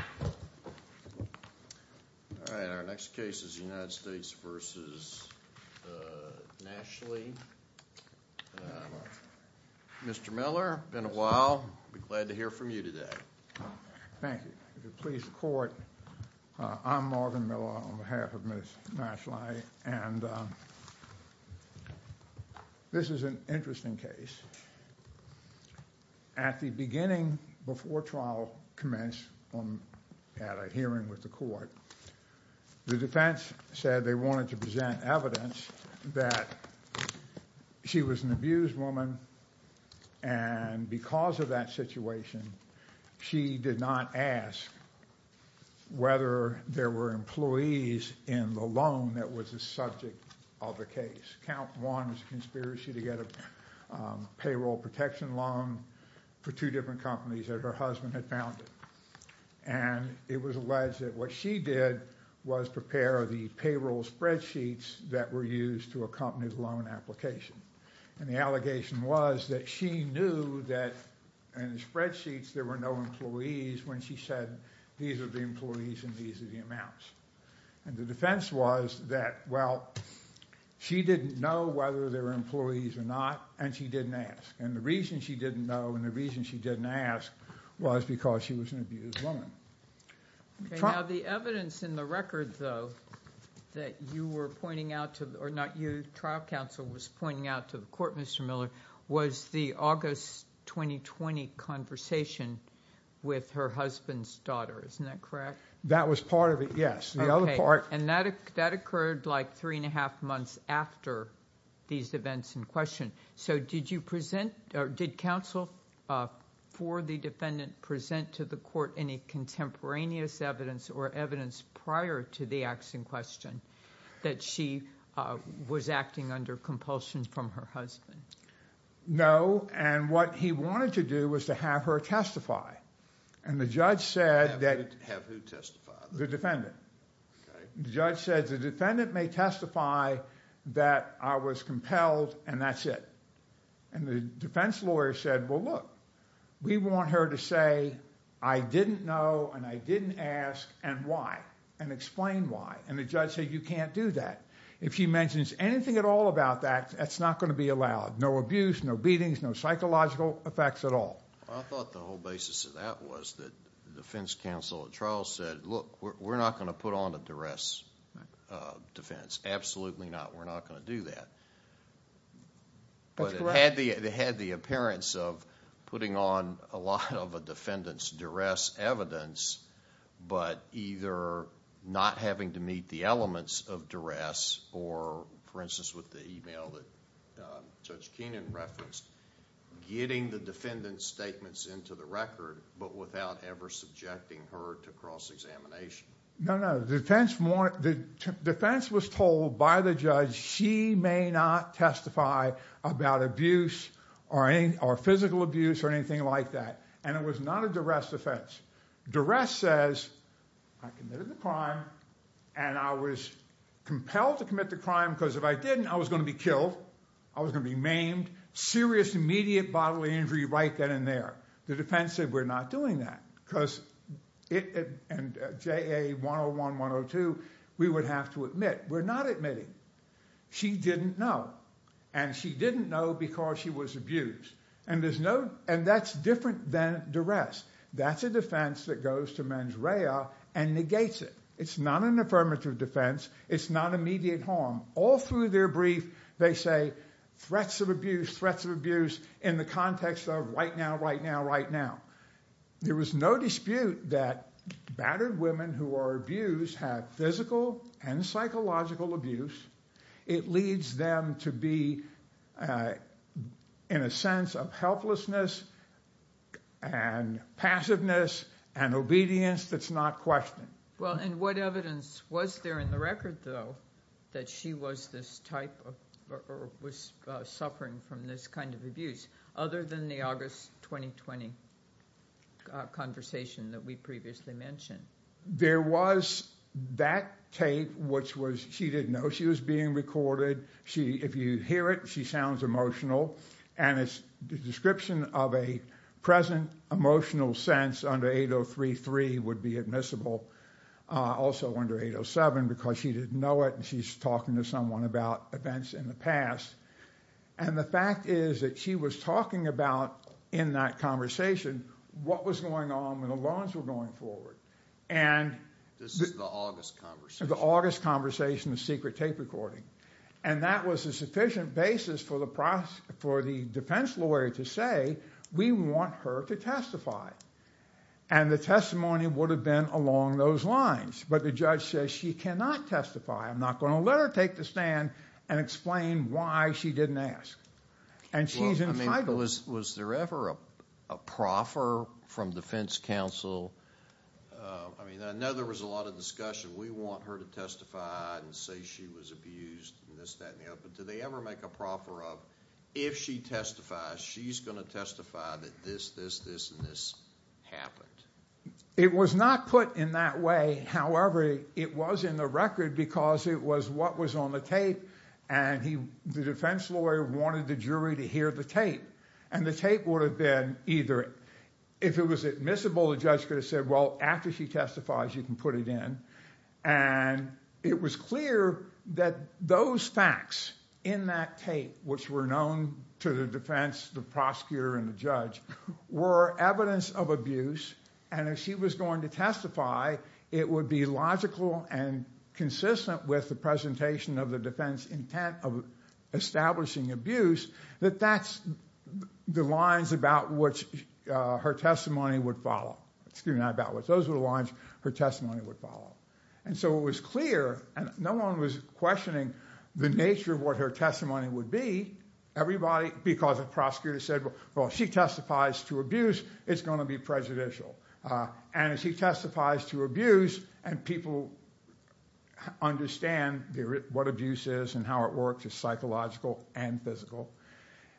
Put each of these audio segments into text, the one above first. All right, our next case is the United States v. Nashlai. Mr. Miller, been a while, glad to hear from you today. Thank you. Please report. I'm Marvin Miller on behalf of Ms. Nashlai, and this is an interesting case. At the beginning, before trial commenced at a hearing with the court, the defense said they wanted to present evidence that she was an abused woman, and because of that situation, she did not ask whether there were employees in the loan that was the subject of the case. Count one was a conspiracy to get a payroll protection loan for two different companies that her husband had founded, and it was alleged that what she did was prepare the payroll spreadsheets that were used to accompany the loan application, and the allegation was that she knew that in the spreadsheets there were no employees when she said these are the employees and these are the amounts, and the defense was that, well, she didn't know whether there were employees or not, and she didn't ask, and the reason she didn't know and the reason she didn't ask was because she was an abused woman. Now, the evidence in the record, though, that you were pointing out to, or not you, trial counsel was pointing out to the court, Mr. Miller, was the August 2020 conversation with her husband's daughter, isn't that correct? That was part of it, yes. And that occurred like three and a half months after these events in question, so did you present, or did counsel for the defendant present to the court any contemporaneous evidence or evidence prior to the acts in question that she was acting under compulsion from her husband? No, and what he wanted to do was to have her testify, and the judge said that... Have who testify? The defendant. The judge said the defendant may testify that I was compelled and that's it, and the defense lawyer said, well, look, we want her to say I didn't know and I didn't ask and why, and explain why, and the judge said you can't do that. If she mentions anything at all about that, that's not going to be allowed. No abuse, no beatings, no psychological effects at all. I thought the whole basis of that was that the defense counsel at trial said, look, we're not going to put on a duress defense, absolutely not, we're not going to do that. But it had the appearance of putting on a lot of a defendant's duress evidence, but either not having to meet the elements of duress or, for instance, with the email that Judge Keenan referenced, getting the defendant's statements into the record but without ever subjecting her to cross-examination. No, no, the defense was told by the judge she may not testify about abuse or physical abuse or anything like that, and it was not a duress defense. Duress says I committed the crime and I was compelled to commit the crime because if I didn't, I was going to be killed, I was going to be maimed, serious immediate bodily injury right then and there. The defense said we're not doing that because it, and JA 101-102, we would have to admit we're not admitting. She didn't know, and she didn't know because she was abused. And there's no, and that's different than duress. That's a defense that goes to mens rea and negates it. It's not an affirmative defense, it's not immediate harm. All through their brief, they say threats of abuse, threats of abuse in the context of right now, right now, right now. There was no dispute that battered women who are abused have physical and psychological abuse. It leads them to be in a sense of helplessness and passiveness and obedience that's not questioned. Well, and what evidence was there in the record, though, that she was this type of, or was suffering from this kind of abuse, other than the August 2020 conversation that we previously mentioned? There was that tape, which was, she didn't know she was being recorded. If you hear it, she sounds emotional, and it's the description of a present emotional sense under 8033 would be admissible. Also under 807, because she didn't know it, and she's talking to someone about events in the past. And the fact is that she was talking about, in that conversation, what was going on when the loans were going forward. This is the August conversation. The August conversation, the secret tape recording. And that was a sufficient basis for the defense lawyer to say, we want her to testify. And the testimony would have been along those lines. But the judge says she cannot testify. I'm not going to let her take the stand and explain why she didn't ask. Was there ever a proffer from defense counsel? I mean, I know there was a lot of discussion. We want her to testify and say she was abused and this, that, and the other. But did they ever make a proffer of, if she testifies, she's going to testify that this, this, this, and this happened? It was not put in that way. However, it was in the record because it was what was on the tape, and the defense lawyer wanted the jury to hear the tape. And the tape would have been either, if it was admissible, the judge could have said, well, after she testifies, you can put it in. And it was clear that those facts in that tape, which were known to the defense, the prosecutor, and the judge, were evidence of abuse. And if she was going to testify, it would be logical and consistent with the presentation of the defense intent of establishing abuse, that that's the lines about which her testimony would follow. And so it was clear, and no one was questioning the nature of what her testimony would be. Everybody, because the prosecutor said, well, if she testifies to abuse, it's going to be prejudicial. And if she testifies to abuse, and people understand what abuse is and how it works, it's psychological and physical.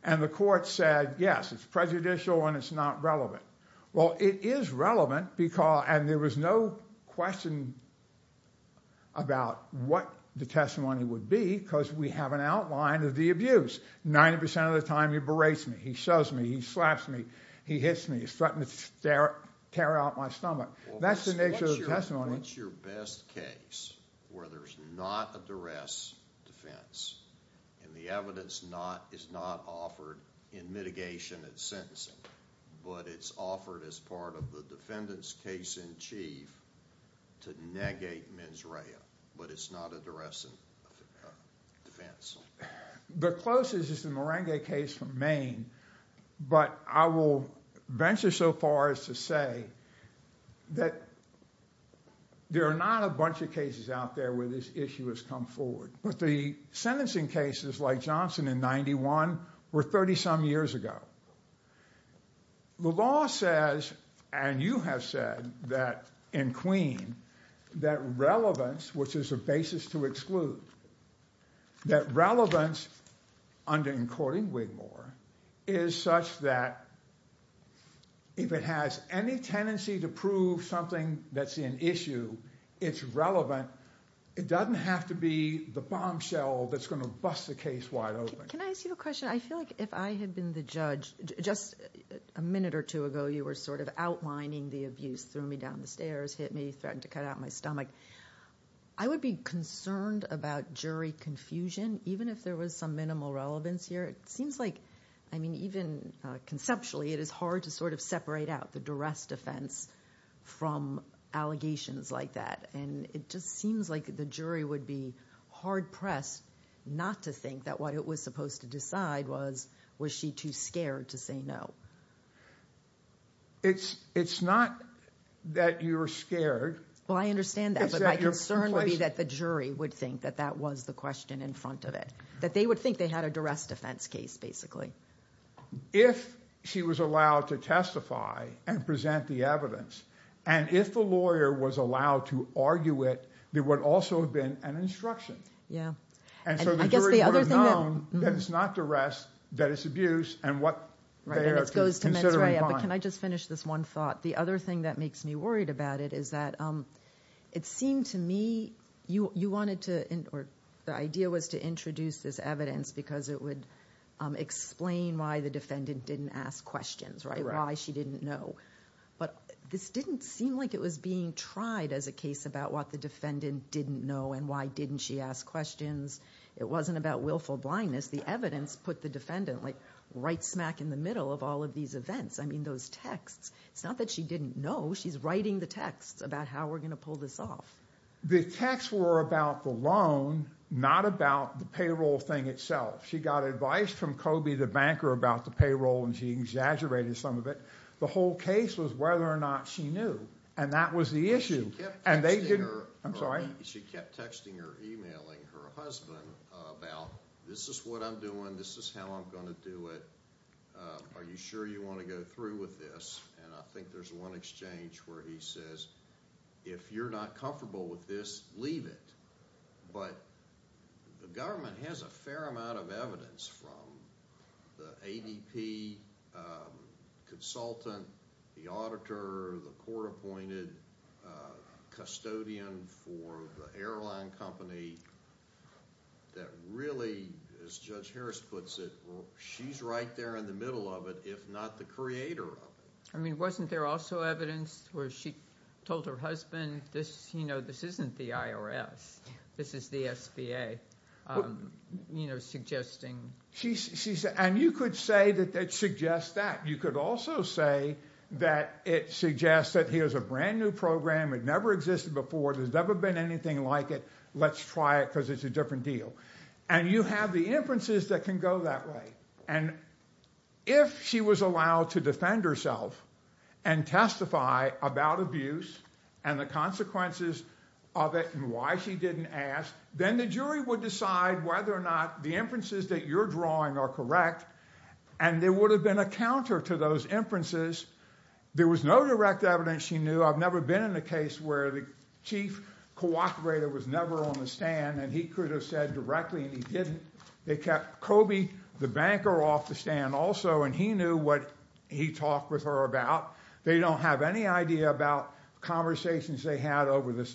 And the court said, yes, it's prejudicial and it's not relevant. Well, it is relevant, and there was no question about what the testimony would be, because we have an outline of the abuse. 90% of the time, he berates me, he shoves me, he slaps me, he hits me, he's threatening to tear out my stomach. That's the nature of the testimony. What's your best case where there's not a duress defense, and the evidence is not offered in mitigation at sentencing, but it's offered as part of the defendant's case in chief to negate mens rea, but it's not a duress defense? The closest is the Merengue case from Maine. But I will venture so far as to say that there are not a bunch of cases out there where this issue has come forward. But the sentencing cases like Johnson in 91 were 30-some years ago. The law says, and you have said that in Queen, that relevance, which is a basis to exclude, that relevance under in courting Wigmore is such that if it has any tendency to prove something that's in issue, it's relevant. It doesn't have to be the bombshell that's going to bust the case wide open. Can I ask you a question? I feel like if I had been the judge, just a minute or two ago, you were sort of outlining the abuse, threw me down the stairs, hit me, threatened to cut out my stomach. I would be concerned about jury confusion, even if there was some minimal relevance here. It seems like, I mean, even conceptually, it is hard to sort of separate out the duress defense from allegations like that. And it just seems like the jury would be hard-pressed not to think that what it was supposed to decide was, was she too scared to say no. It's not that you're scared. Well, I understand that. But my concern would be that the jury would think that that was the question in front of it, that they would think they had a duress defense case, basically. If she was allowed to testify and present the evidence, and if the lawyer was allowed to argue it, there would also have been an instruction. Yeah. And so the jury would have known that it's not duress, that it's abuse, and what they are considering. But can I just finish this one thought? The other thing that makes me worried about it is that it seemed to me you wanted to, the idea was to introduce this evidence because it would explain why the defendant didn't ask questions, right, why she didn't know. But this didn't seem like it was being tried as a case about what the defendant didn't know and why didn't she ask questions. It wasn't about willful blindness. The evidence put the defendant, like, right smack in the middle of all of these events. I mean, those texts. It's not that she didn't know. She's writing the texts about how we're going to pull this off. The texts were about the loan, not about the payroll thing itself. She got advice from Kobe, the banker, about the payroll, and she exaggerated some of it. The whole case was whether or not she knew, and that was the issue. She kept texting or emailing her husband about this is what I'm doing, this is how I'm going to do it. Are you sure you want to go through with this? And I think there's one exchange where he says if you're not comfortable with this, leave it. But the government has a fair amount of evidence from the ADP consultant, the auditor, the court-appointed custodian for the airline company that really, as Judge Harris puts it, well, she's right there in the middle of it, if not the creator of it. I mean, wasn't there also evidence where she told her husband, you know, this isn't the IRS, this is the SBA, you know, suggesting? And you could say that it suggests that. You could also say that it suggests that here's a brand-new program. It never existed before. There's never been anything like it. Let's try it because it's a different deal. And you have the inferences that can go that way. And if she was allowed to defend herself and testify about abuse and the consequences of it and why she didn't ask, then the jury would decide whether or not the inferences that you're drawing are correct, and there would have been a counter to those inferences. There was no direct evidence she knew. I've never been in a case where the chief cooperator was never on the stand, and he could have said directly, and he didn't. They kept Kobe, the banker, off the stand also, and he knew what he talked with her about. They don't have any idea about conversations they had over the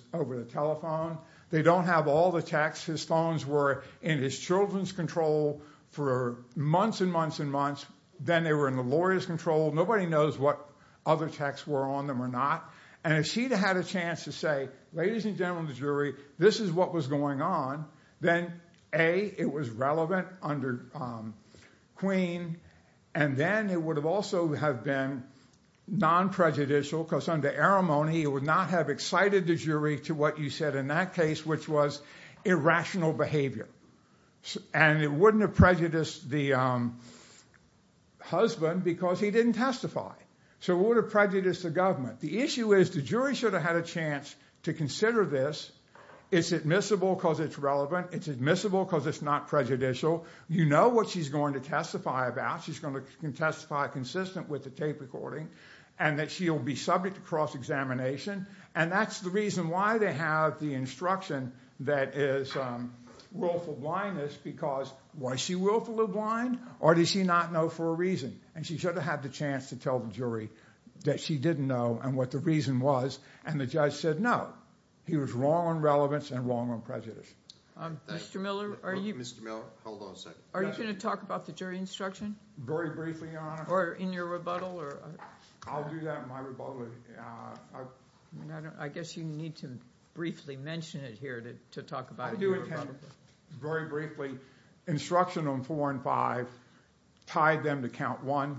telephone. They don't have all the texts. His phones were in his children's control for months and months and months. Then they were in the lawyer's control. Nobody knows what other texts were on them or not. And if she'd had a chance to say, ladies and gentlemen of the jury, this is what was going on, then A, it was relevant under Queen, and then it would have also have been non-prejudicial because under Arimony it would not have excited the jury to what you said in that case, which was irrational behavior. And it wouldn't have prejudiced the husband because he didn't testify. So it would have prejudiced the government. The issue is the jury should have had a chance to consider this. It's admissible because it's relevant. It's admissible because it's not prejudicial. You know what she's going to testify about. She's going to testify consistent with the tape recording and that she'll be subject to cross-examination. And that's the reason why they have the instruction that is willful blindness because was she willfully blind or did she not know for a reason? And she should have had the chance to tell the jury that she didn't know and what the reason was, and the judge said no. He was wrong on relevance and wrong on prejudice. Mr. Miller, are you going to talk about the jury instruction? Very briefly, Your Honor. Or in your rebuttal? I'll do that in my rebuttal. I guess you need to briefly mention it here to talk about your rebuttal. I do intend very briefly. Instruction on 4 and 5 tied them to Count 1,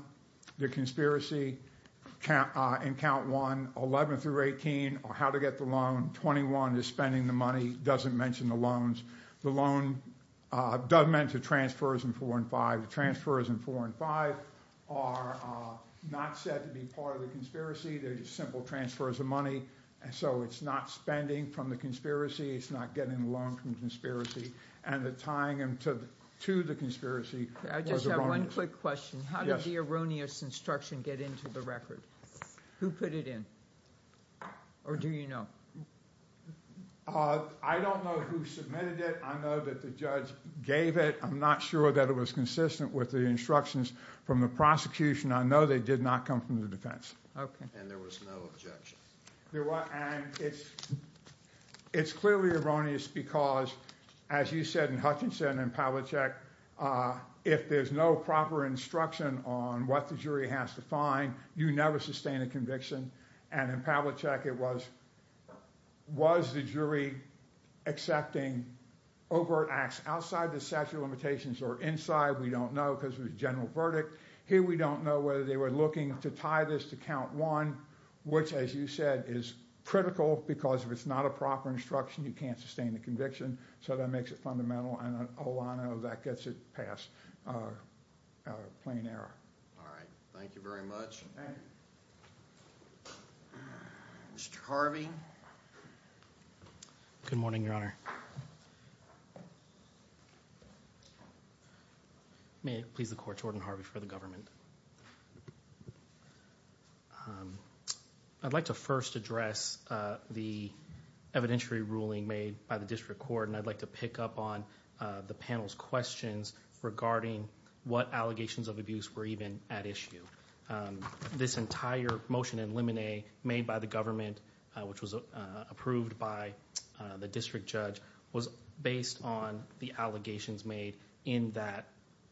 the conspiracy in Count 1. 11 through 18 are how to get the loan. 21 is spending the money, doesn't mention the loans. The loan doesn't mention transfers in 4 and 5. The transfers in 4 and 5 are not said to be part of the conspiracy. They're just simple transfers of money. So it's not spending from the conspiracy. It's not getting the loan from the conspiracy. And the tying them to the conspiracy was erroneous. I just have one quick question. How did the erroneous instruction get into the record? Who put it in? Or do you know? I don't know who submitted it. I know that the judge gave it. I'm not sure that it was consistent with the instructions from the prosecution. I know they did not come from the defense. Okay. And there was no objection? There was. And it's clearly erroneous because, as you said in Hutchinson and Pavlicek, if there's no proper instruction on what the jury has to find, you never sustain a conviction. And in Pavlicek it was, was the jury accepting overt acts outside the statute of limitations or inside? We don't know because it was a general verdict. Here we don't know whether they were looking to tie this to count one, which, as you said, is critical because if it's not a proper instruction, you can't sustain a conviction. So that makes it fundamental. And I know that gets it past plain error. All right. Thank you very much. Thank you. Mr. Harvey? Good morning, Your Honor. May it please the Court, Jordan Harvey for the government. I'd like to first address the evidentiary ruling made by the District Court, and I'd like to pick up on the panel's questions regarding what allegations of abuse were even at issue. This entire motion in limine made by the government, which was approved by the district judge, was based on the allegations made in that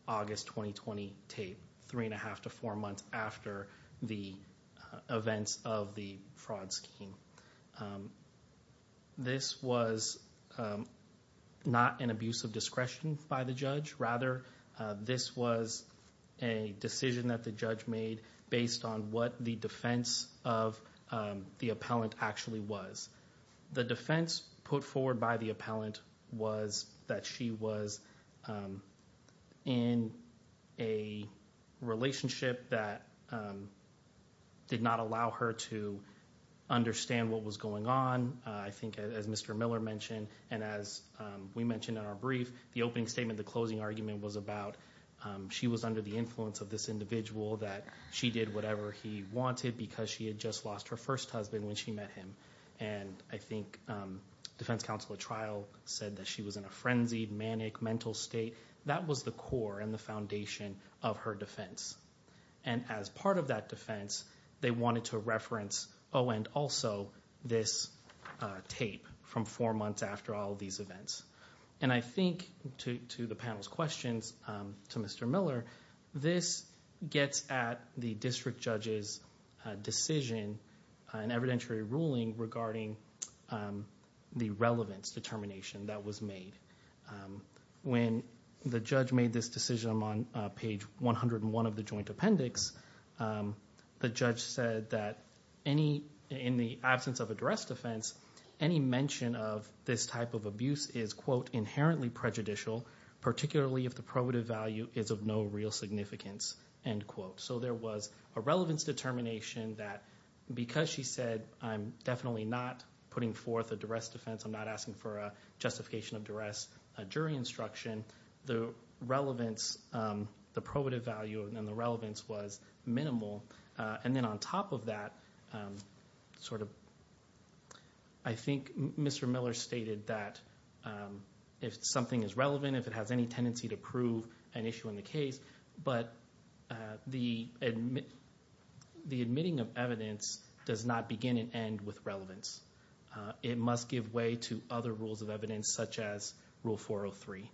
August 2020 tape, three and a half to four months after the events of the fraud scheme. This was not an abuse of discretion by the judge. Rather, this was a decision that the judge made based on what the defense of the appellant actually was. The defense put forward by the appellant was that she was in a relationship that did not allow her to understand what was going on. I think, as Mr. Miller mentioned, and as we mentioned in our brief, the opening statement, the closing argument was about, she was under the influence of this individual that she did whatever he wanted because she had just lost her first husband when she met him. I think defense counsel at trial said that she was in a frenzied, manic mental state. That was the core and the foundation of her defense. As part of that defense, they wanted to reference, oh, and also this tape from four months after all of these events. I think, to the panel's questions, to Mr. Miller, this gets at the district judge's decision, an evidentiary ruling regarding the relevance determination that was made. When the judge made this decision on page 101 of the joint appendix, the judge said that in the absence of a direct offense, any mention of this type of abuse is, quote, inherently prejudicial, particularly if the probative value is of no real significance, end quote. There was a relevance determination that, because she said, I'm definitely not putting forth a duress defense, I'm not asking for a justification of duress, a jury instruction, the relevance, the probative value and the relevance was minimal. On top of that, I think Mr. Miller stated that if something is relevant, if it has any tendency to prove an issue in the case, but the admitting of evidence does not begin and end with relevance. It must give way to other rules of evidence, such as Rule 403.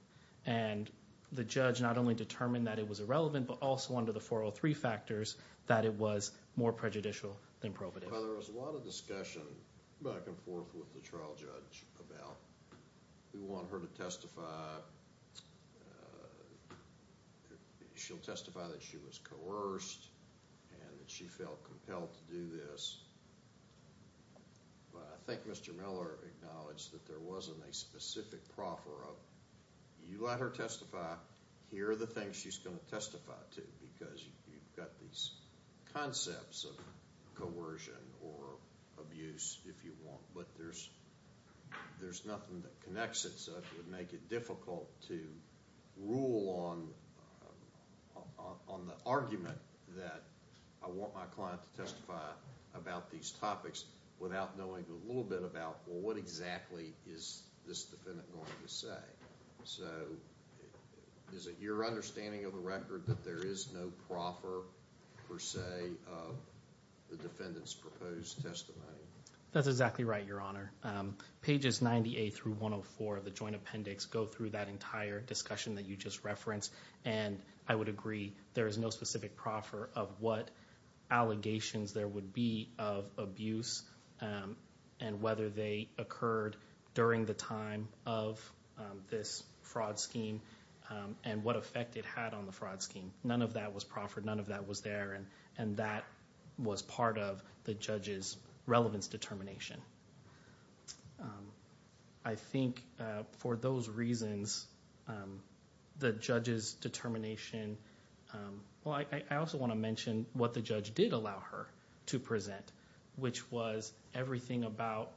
The judge not only determined that it was irrelevant, but also under the 403 factors that it was more prejudicial than probative. There was a lot of discussion back and forth with the trial judge about we want her to testify, she'll testify that she was coerced and that she felt compelled to do this. I think Mr. Miller acknowledged that there wasn't a specific proffer of you let her testify, here are the things she's going to testify to because you've got these concepts of coercion or abuse, if you want, but there's nothing that connects it so it would make it difficult to rule on the argument that I want my client to testify about these topics without knowing a little bit about what exactly is this defendant going to say. Is it your understanding of the record that there is no proffer per se of the defendant's proposed testimony? That's exactly right, Your Honor. Pages 98 through 104 of the joint appendix go through that entire discussion that you just referenced and I would agree there is no specific proffer of what allegations there would be of abuse and whether they occurred during the time of this fraud scheme and what effect it had on the fraud scheme. None of that was proffered, none of that was there, and that was part of the judge's relevance determination. I think for those reasons, the judge's determination I also want to mention what the judge did allow her to present, which was everything about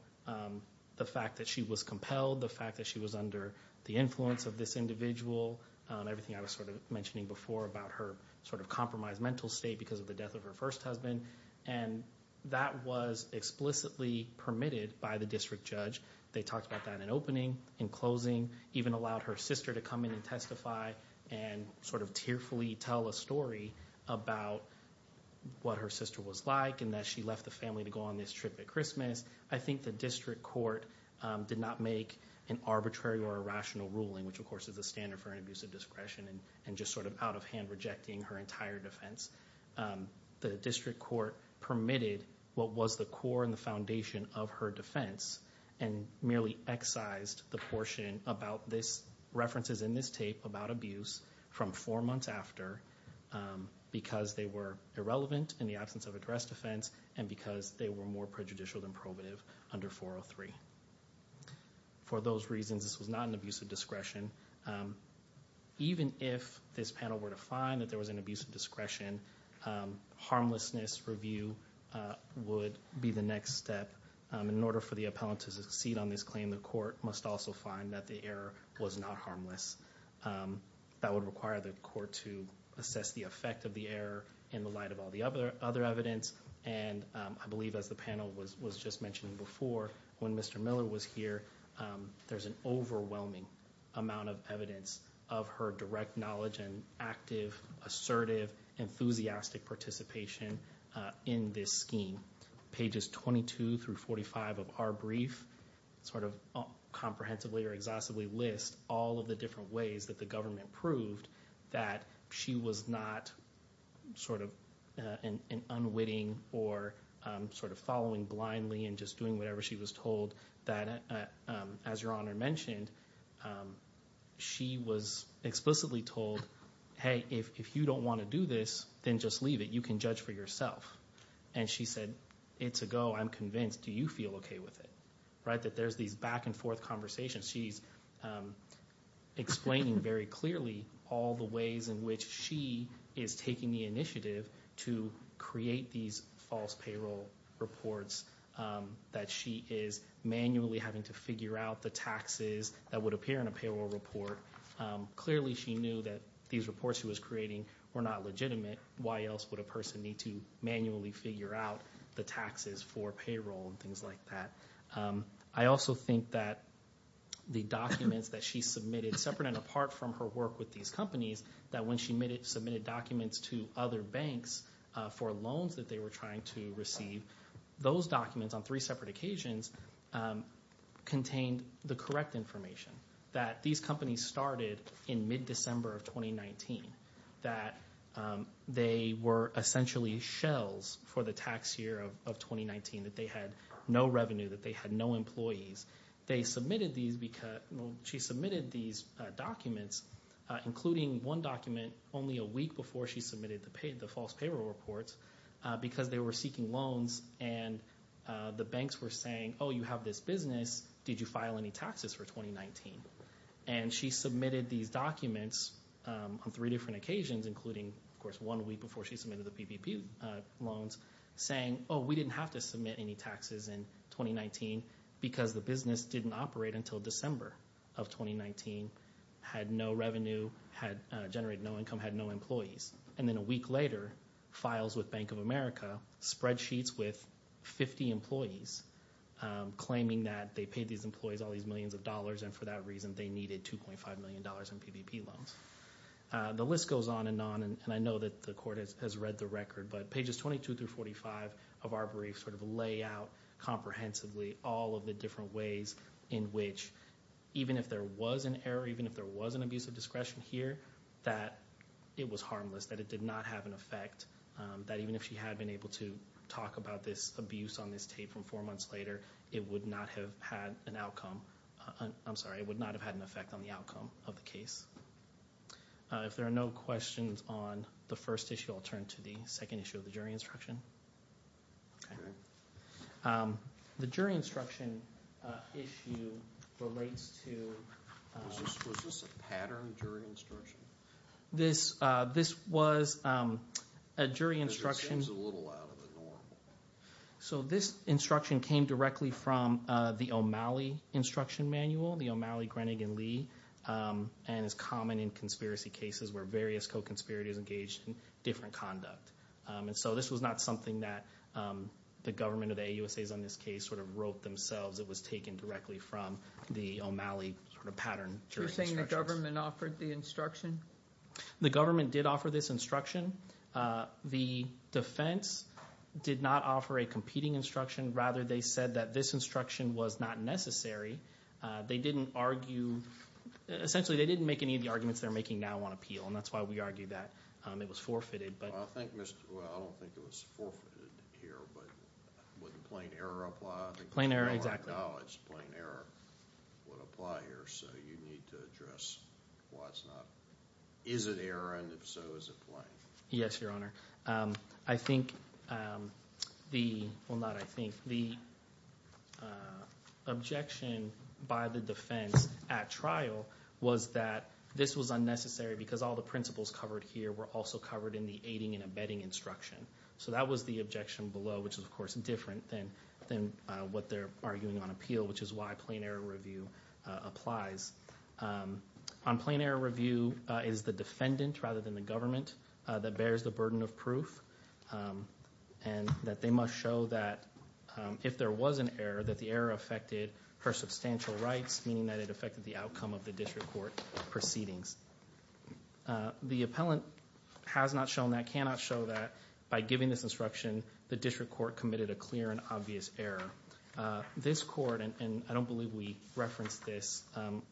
the fact that she was compelled, the fact that she was under the influence of this individual, everything I was mentioning before about her compromised mental state because of the death of her first husband, and that was explicitly permitted by the district judge. They talked about that in opening, in closing, even allowed her sister to come in and testify and sort of tearfully tell a story about what her sister was like and that she left the family to go on this trip at Christmas. I think the district court did not make an arbitrary or irrational ruling, which of course is the standard for an abuse of discretion and just sort of out of hand rejecting her entire defense. The district court permitted what was the core and the foundation of her defense and merely excised the portion about this, references in this tape about abuse from four months after because they were irrelevant in the absence of addressed offense and because they were more prejudicial than probative under 403. For those reasons, this was not an abuse of discretion. Even if this panel were to find that there was an abuse of discretion, harmlessness review would be the next step. In order for the appellant to succeed on this claim, the court must also find that the error was not harmless. That would require the court to assess the effect of the error in the light of all the other evidence, and I believe as the panel was just mentioning before, when Mr. Miller was here, there's an overwhelming amount of evidence of her direct knowledge and active, assertive, enthusiastic participation in this scheme. Pages 22 through 45 of our brief sort of comprehensively or exhaustively list all of the different ways that the government proved that she was not sort of an unwitting or sort of following blindly and just doing whatever she was told. As Your Honor mentioned, she was explicitly told, hey, if you don't want to do this, then just leave it. You can judge for yourself. And she said, it's a go. I'm convinced. Do you feel okay with it? That there's these back and forth conversations. She's explaining very clearly all the ways in which she is taking the initiative to create these false payroll reports that she is manually having to figure out the taxes that would appear in a payroll report. Clearly she knew that these reports she was creating were not legitimate. Why else would a person need to manually figure out the taxes for payroll and things like that? I also think that the documents that she submitted, separate and apart from her work with these companies, that when she submitted documents to other banks for loans that they were trying to receive, those documents on three separate occasions contained the correct information, that these companies started in mid-December of 2019, that they were essentially shells for the tax year of 2019, that they had no revenue, that they had no employees. She submitted these documents, including one document, only a week before she submitted the false payroll reports, because they were seeking loans and the banks were saying, oh, you have this business, did you file any taxes for 2019? And she submitted these documents on three different occasions, including, of course, one week before she submitted the PPP loans, saying, oh, we didn't have to submit any taxes in 2019 because the business didn't operate until December of 2019, had no revenue, had generated no income, had no employees. And then a week later, files with Bank of America, spreadsheets with 50 employees, claiming that they paid these employees all these millions of dollars, and for that reason they needed $2.5 million in PPP loans. The list goes on and on, and I know that the Court has read the record, but pages 22 through 45 of our brief sort of lay out comprehensively all of the different ways in which, even if there was an error, even if there was an abuse of discretion here, that it was harmless, that it did not have an effect, that even if she had been able to talk about this abuse on this tape from four months later, it would not have had an outcome. I'm sorry, it would not have had an effect on the outcome of the case. If there are no questions on the first issue, I'll turn to the second issue of the jury instruction. The jury instruction issue relates to… Was this a pattern jury instruction? This was a jury instruction… Because it seems a little out of the normal. So this instruction came directly from the O'Malley instruction manual, the O'Malley, Grenegan, Lee, and is common in conspiracy cases where various co-conspirators engage in different conduct. And so this was not something that the government of the AUSAs on this case sort of wrote themselves. It was taken directly from the O'Malley sort of pattern jury instructions. You're saying the government offered the instruction? The government did offer this instruction. The defense did not offer a competing instruction. Rather, they said that this instruction was not necessary. They didn't argue… Essentially, they didn't make any of the arguments they're making now on appeal, and that's why we argue that it was forfeited. I don't think it was forfeited here, but would a plain error apply? A plain error, exactly. I don't acknowledge a plain error would apply here, so you need to address why it's not. Is it error, and if so, is it plain? Yes, Your Honor. I think the—well, not I think. The objection by the defense at trial was that this was unnecessary because all the principles covered here were also covered in the aiding and abetting instruction. So that was the objection below, which is, of course, different than what they're arguing on appeal, which is why plain error review applies. On plain error review is the defendant rather than the government that bears the burden of proof and that they must show that if there was an error, that the error affected her substantial rights, meaning that it affected the outcome of the district court proceedings. The appellant has not shown that, cannot show that. By giving this instruction, the district court committed a clear and obvious error. This court, and I don't believe we referenced this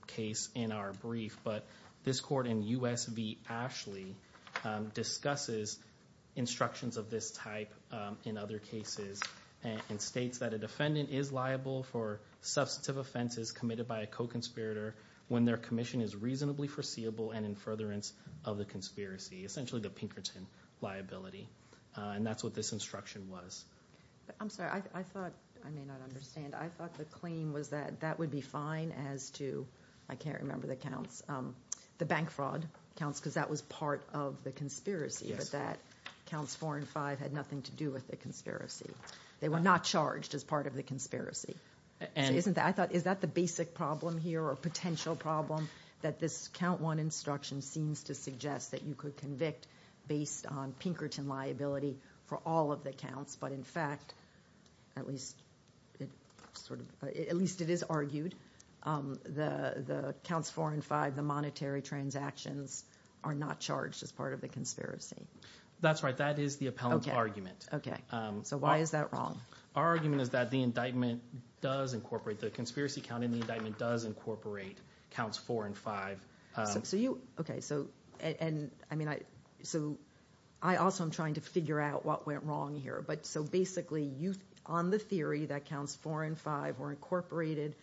case in our brief, but this court in U.S. v. Ashley discusses instructions of this type in other cases and states that a defendant is liable for substantive offenses committed by a co-conspirator when their commission is reasonably foreseeable and in furtherance of the conspiracy, essentially the Pinkerton liability. And that's what this instruction was. I'm sorry. I thought—I may not understand. I thought the claim was that that would be fine as to—I can't remember the counts— the bank fraud counts because that was part of the conspiracy, but that counts four and five had nothing to do with the conspiracy. They were not charged as part of the conspiracy. So isn't that—I thought, is that the basic problem here or potential problem that this count one instruction seems to suggest that you could convict based on Pinkerton liability for all of the counts, but in fact, at least it sort of—at least it is argued, the counts four and five, the monetary transactions, are not charged as part of the conspiracy. That's right. That is the appellant argument. Okay. So why is that wrong? Our argument is that the indictment does incorporate— the conspiracy count in the indictment does incorporate counts four and five. So you—okay, so—and I mean I—so I also am trying to figure out what went wrong here. But so basically you—on the theory that counts four and five were incorporated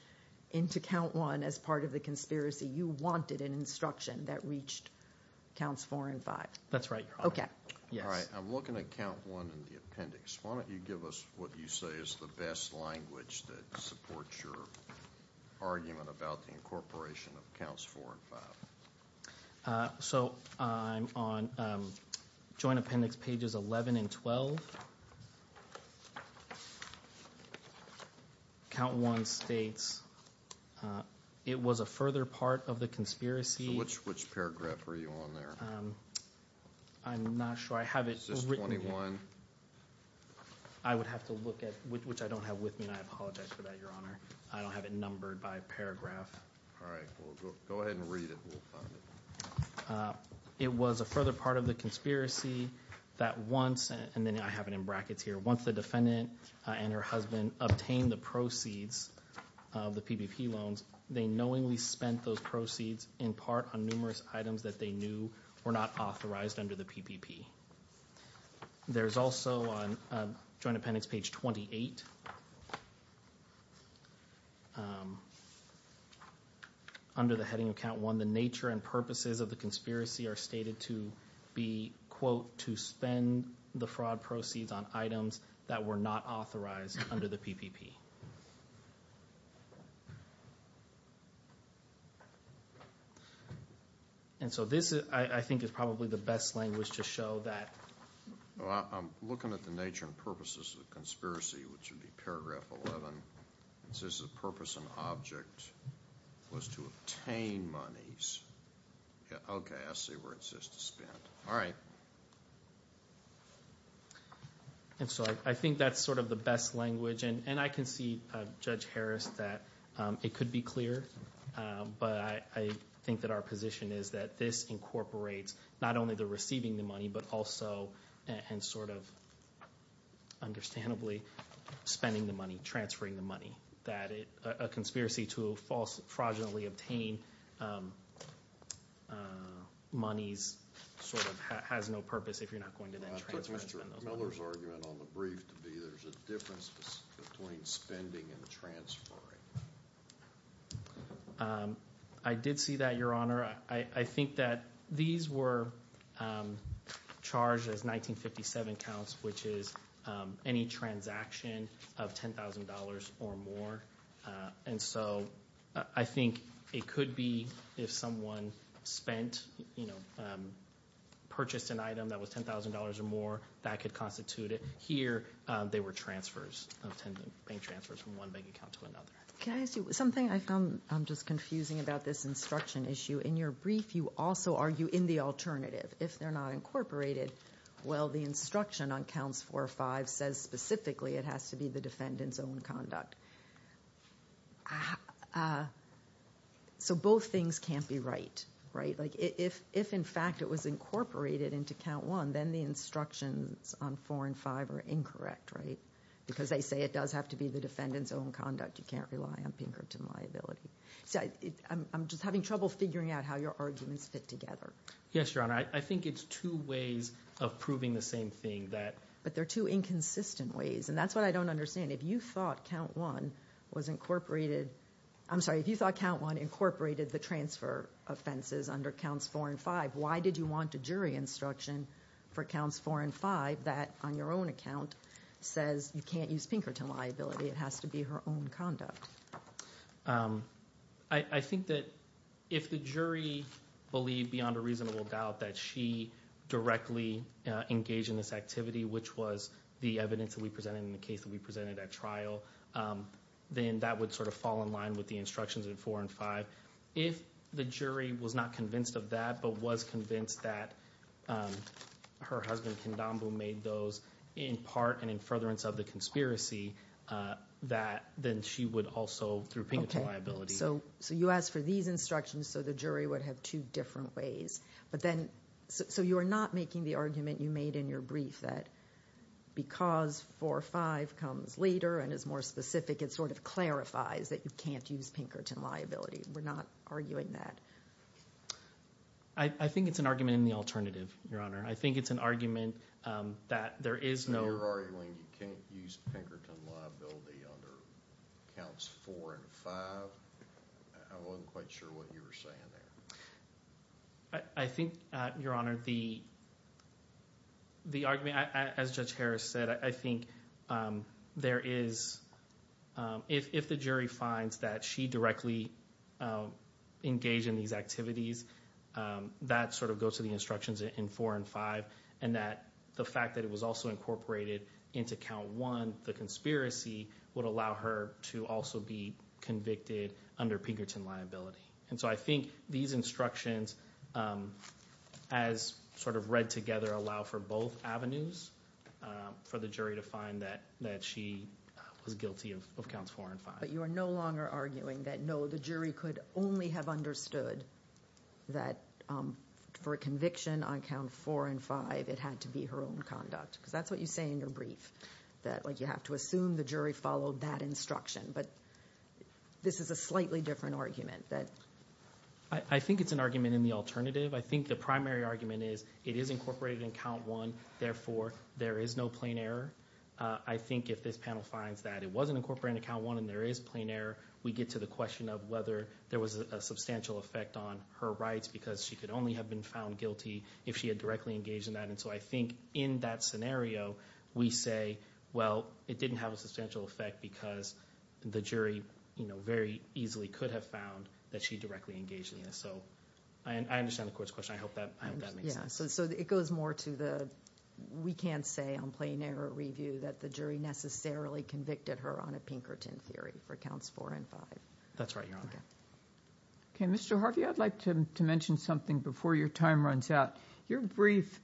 into count one as part of the conspiracy, you wanted an instruction that reached counts four and five. That's right. Okay. Yes. All right. I'm looking at count one in the appendix. Why don't you give us what you say is the best language that supports your argument about the incorporation of counts four and five. So I'm on joint appendix pages 11 and 12. Count one states it was a further part of the conspiracy— So which paragraph are you on there? I'm not sure. I have it written here. I would have to look at—which I don't have with me, and I apologize for that, Your Honor. I don't have it numbered by paragraph. All right. Well, go ahead and read it. We'll find it. It was a further part of the conspiracy that once—and then I have it in brackets here— once the defendant and her husband obtained the proceeds of the PPP loans, they knowingly spent those proceeds in part on numerous items that they knew were not authorized under the PPP. There's also on joint appendix page 28, under the heading of count one, the nature and purposes of the conspiracy are stated to be, quote, to spend the fraud proceeds on items that were not authorized under the PPP. And so this, I think, is probably the best language to show that. Well, I'm looking at the nature and purposes of the conspiracy, which would be paragraph 11. It says the purpose and object was to obtain monies. Okay, I see where it says to spend. All right. And so I think that's sort of the best language, and I can see why. I can see, Judge Harris, that it could be clear, but I think that our position is that this incorporates not only the receiving the money, but also, and sort of understandably, spending the money, transferring the money. That a conspiracy to fraudulently obtain monies sort of has no purpose if you're not going to then transfer and spend those monies. Judge Miller's argument on the brief to be there's a difference between spending and transferring. I did see that, Your Honor. I think that these were charged as 1957 counts, which is any transaction of $10,000 or more. And so I think it could be if someone spent, you know, purchased an item that was $10,000 or more, that could constitute it. Here, they were transfers of $10,000 bank transfers from one bank account to another. Can I ask you something? I'm just confusing about this instruction issue. In your brief, you also argue in the alternative, if they're not incorporated, well, the instruction on counts four or five says specifically it has to be the defendant's own conduct. So both things can't be right, right? If in fact it was incorporated into count one, then the instructions on four and five are incorrect, right? Because they say it does have to be the defendant's own conduct. You can't rely on Pinkerton liability. So I'm just having trouble figuring out how your arguments fit together. Yes, Your Honor. I think it's two ways of proving the same thing. But they're two inconsistent ways, and that's what I don't understand. If you thought count one was incorporated, I'm sorry, if you thought count one incorporated the transfer offenses under counts four and five, why did you want a jury instruction for counts four and five that, on your own account, says you can't use Pinkerton liability, it has to be her own conduct? I think that if the jury believed, beyond a reasonable doubt, that she directly engaged in this activity, which was the evidence that we presented in the case that we presented at trial, then that would sort of fall in line with the instructions in four and five. If the jury was not convinced of that, but was convinced that her husband, Kandambu, made those in part and in furtherance of the conspiracy, then she would also, through Pinkerton liability. So you asked for these instructions so the jury would have two different ways. So you are not making the argument you made in your brief that because four or five comes later and is more specific, it sort of clarifies that you can't use Pinkerton liability. We're not arguing that. I think it's an argument in the alternative, Your Honor. I think it's an argument that there is no... So you're arguing you can't use Pinkerton liability under counts four and five? I wasn't quite sure what you were saying there. I think, Your Honor, the argument, as Judge Harris said, I think there is... If the jury finds that she directly engaged in these activities, that sort of goes to the instructions in four and five, and that the fact that it was also incorporated into count one, the conspiracy would allow her to also be convicted under Pinkerton liability. And so I think these instructions, as sort of read together, allow for both avenues for the jury to find that she was guilty of counts four and five. But you are no longer arguing that, no, the jury could only have understood that for a conviction on count four and five, it had to be her own conduct. Because that's what you say in your brief, that you have to assume the jury followed that instruction. But this is a slightly different argument. I think it's an argument in the alternative. I think the primary argument is it is incorporated in count one, therefore there is no plain error. I think if this panel finds that it wasn't incorporated in count one and there is plain error, we get to the question of whether there was a substantial effect on her rights because she could only have been found guilty if she had directly engaged in that. And so I think in that scenario, we say, well, it didn't have a substantial effect because the jury very easily could have found that she directly engaged in this. So I understand the court's question. I hope that makes sense. Yeah, so it goes more to the we can't say on plain error review that the jury necessarily convicted her on a Pinkerton theory for counts four and five. That's right, Your Honor. Okay, Mr. Harvey, I'd like to mention something before your time runs out. Your brief,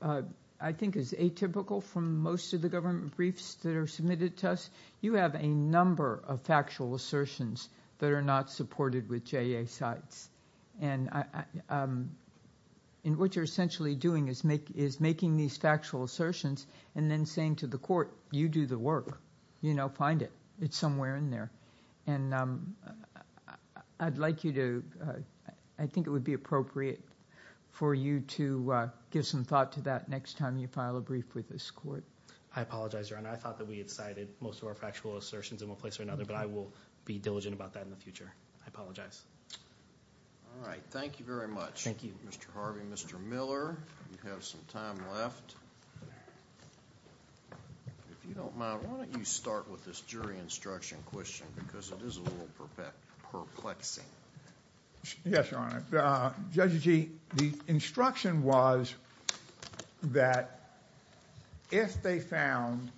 I think, is atypical from most of the government briefs that are submitted to us. You have a number of factual assertions that are not supported with JA sites. And what you're essentially doing is making these factual assertions and then saying to the court, you do the work. You know, find it. It's somewhere in there. And I'd like you to – I think it would be appropriate for you to give some thought to that next time you file a brief with this court. I apologize, Your Honor. I thought that we had cited most of our factual assertions in one place or another, but I will be diligent about that in the future. I apologize. All right. Thank you very much. Thank you. Mr. Harvey, Mr. Miller, you have some time left. If you don't mind, why don't you start with this jury instruction question because it is a little perplexing. Yes, Your Honor. Judge Agee, the instruction was that if they found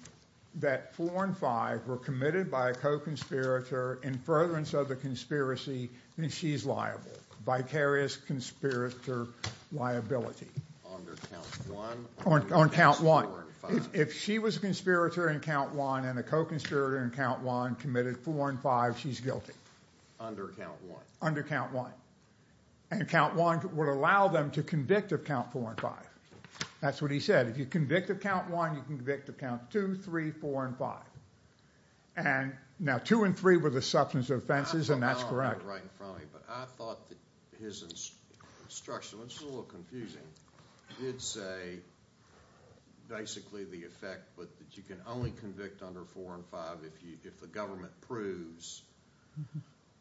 that four and five were committed by a co-conspirator in furtherance of the conspiracy, then she's liable. Vicarious conspirator liability. Under count one. On count one. If she was a conspirator in count one and a co-conspirator in count one committed four and five, she's guilty. Under count one. Under count one. And count one would allow them to convict of count four and five. That's what he said. If you convict of count one, you can convict of count two, three, four, and five. And now two and three were the substance of offenses, and that's correct. Right in front of me. But I thought that his instruction, which was a little confusing, did say basically the effect that you can only convict under four and five if the government proves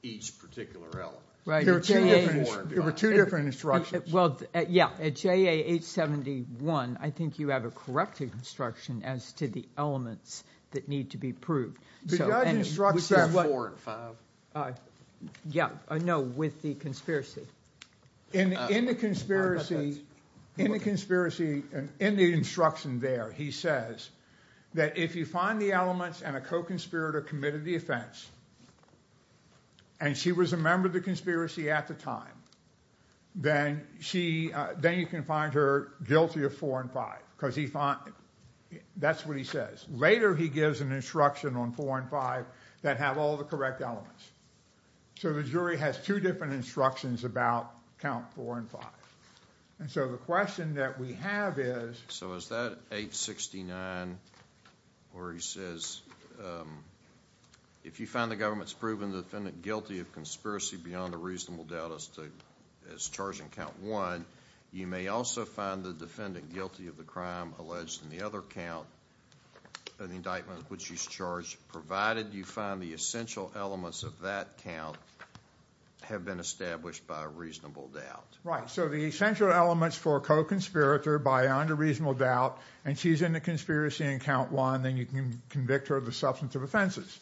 each particular element. There were two different instructions. At JA 871, I think you have a correct instruction as to the elements that need to be proved. The judge instructs that four and five. Yeah. No, with the conspiracy. In the conspiracy, in the instruction there, he says that if you find the elements and a co-conspirator committed the offense and she was a member of the conspiracy at the time, then you can find her guilty of four and five because that's what he says. Later, he gives an instruction on four and five that have all the correct elements. So the jury has two different instructions about count four and five. And so the question that we have is. So is that 869? Or he says, if you find the government's proven the defendant guilty of conspiracy beyond a reasonable doubt as charged in count one, you may also find the defendant guilty of the crime alleged in the other count, an indictment which she's charged, provided you find the essential elements of that count have been established by a reasonable doubt. Right. So the essential elements for a co-conspirator beyond a reasonable doubt and she's in the conspiracy in count one, then you can convict her of the substantive offenses.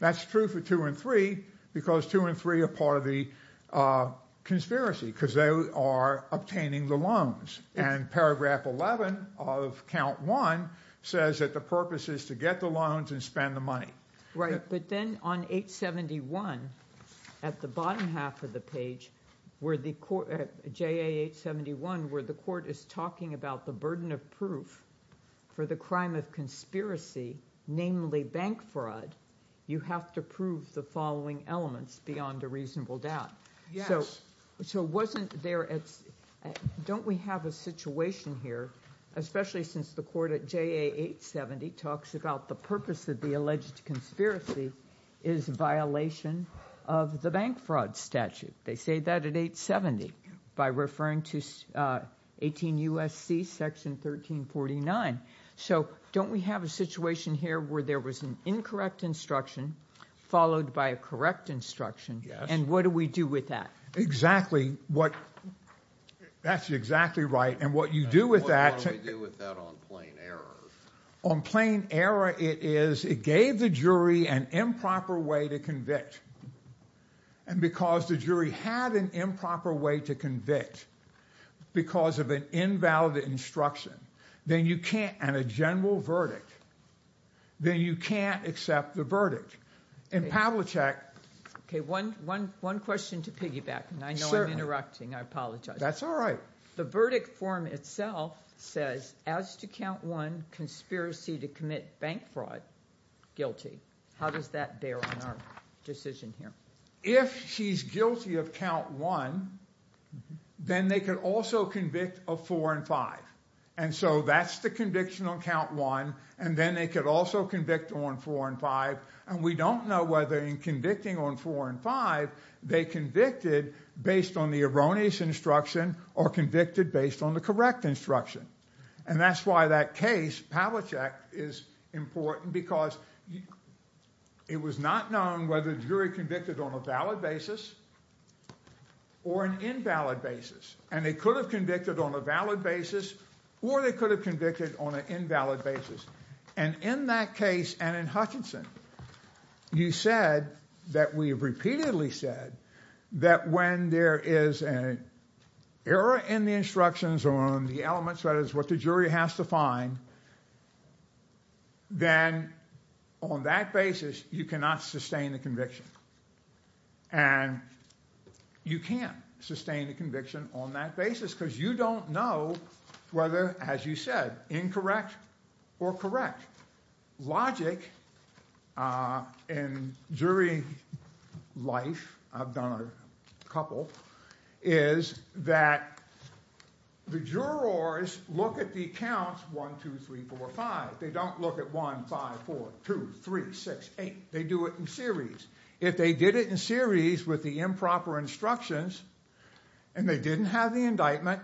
That's true for two and three because two and three are part of the conspiracy because they are obtaining the loans. And paragraph 11 of count one says that the purpose is to get the loans and spend the money. Right. But then on 871, at the bottom half of the page, at JA 871 where the court is talking about the burden of proof for the crime of conspiracy, namely bank fraud, you have to prove the following elements beyond a reasonable doubt. So wasn't there, don't we have a situation here, especially since the court at JA 870 talks about the purpose of the alleged conspiracy is violation of the bank fraud statute. They say that at 870 by referring to 18 U.S.C. section 1349. So don't we have a situation here where there was an incorrect instruction followed by a correct instruction? Yes. And what do we do with that? Exactly what, that's exactly right. And what you do with that. What do we do with that on plain error? On plain error it is, it gave the jury an improper way to convict. And because the jury had an improper way to convict because of an invalid instruction, then you can't, and a general verdict, then you can't accept the verdict. In Pavlicek. Okay, one question to piggyback, and I know I'm interrupting, I apologize. That's all right. The verdict form itself says, as to count one, conspiracy to commit bank fraud, guilty. How does that bear on our decision here? If she's guilty of count one, then they could also convict of four and five. And so that's the conviction on count one, and then they could also convict on four and five. And we don't know whether in convicting on four and five, they convicted based on the erroneous instruction or convicted based on the correct instruction. And that's why that case, Pavlicek, is important, because it was not known whether the jury convicted on a valid basis or an invalid basis. And they could have convicted on a valid basis or they could have convicted on an invalid basis. And in that case, and in Hutchinson, you said that we have repeatedly said that when there is an error in the instructions or on the elements, whether it's what the jury has to find, then on that basis, you cannot sustain the conviction. And you can't sustain the conviction on that basis because you don't know whether, as you said, incorrect or correct. Logic in jury life, I've done a couple, is that the jurors look at the counts one, two, three, four, five. They don't look at one, five, four, two, three, six, eight. They do it in series. If they did it in series with the improper instructions and they didn't have the indictment,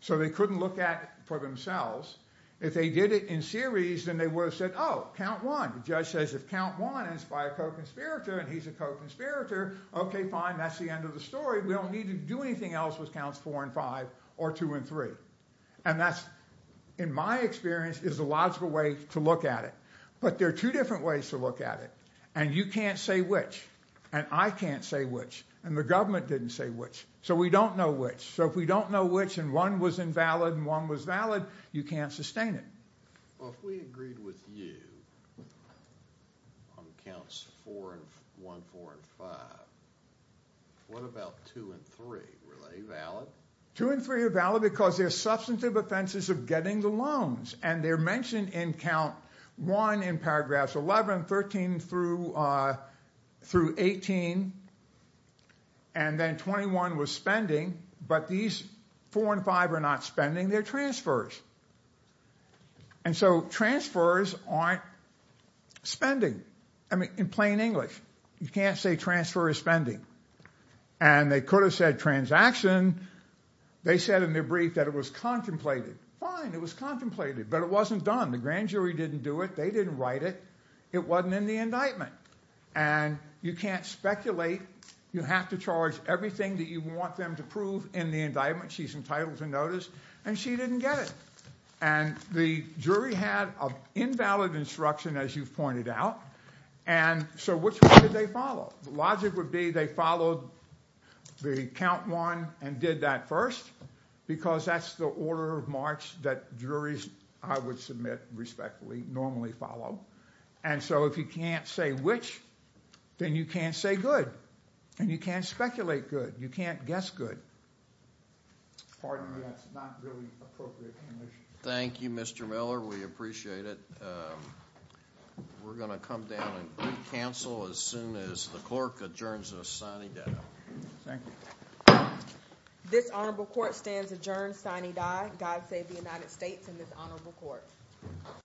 so they couldn't look at it for themselves, if they did it in series, then they would have said, oh, count one. The judge says if count one is by a co-conspirator and he's a co-conspirator, okay, fine. That's the end of the story. We don't need to do anything else with counts four and five or two and three. And that's, in my experience, is the logical way to look at it. But there are two different ways to look at it. And you can't say which. And I can't say which. And the government didn't say which. So we don't know which. So if we don't know which and one was invalid and one was valid, you can't sustain it. Well, if we agreed with you on counts one, four, and five, what about two and three? Were they valid? Two and three are valid because they're substantive offenses of getting the loans. And they're mentioned in count one in paragraphs 11, 13 through 18. And then 21 was spending. But these four and five are not spending. They're transfers. And so transfers aren't spending. I mean, in plain English, you can't say transfer is spending. And they could have said transaction. They said in their brief that it was contemplated. Fine, it was contemplated. But it wasn't done. The grand jury didn't do it. They didn't write it. It wasn't in the indictment. And you can't speculate. You have to charge everything that you want them to prove in the indictment. She's entitled to notice. And she didn't get it. And the jury had an invalid instruction, as you've pointed out. And so which one did they follow? The logic would be they followed the count one and did that first because that's the order of march that juries, I would submit, respectfully, normally follow. And so if you can't say which, then you can't say good. And you can't speculate good. You can't guess good. Pardon me, that's not really appropriate information. Thank you, Mr. Miller. We appreciate it. We're going to come down and re-cancel as soon as the clerk adjourns us. Signing down. Thank you. This honorable court stands adjourned. Signing die. God save the United States and this honorable court.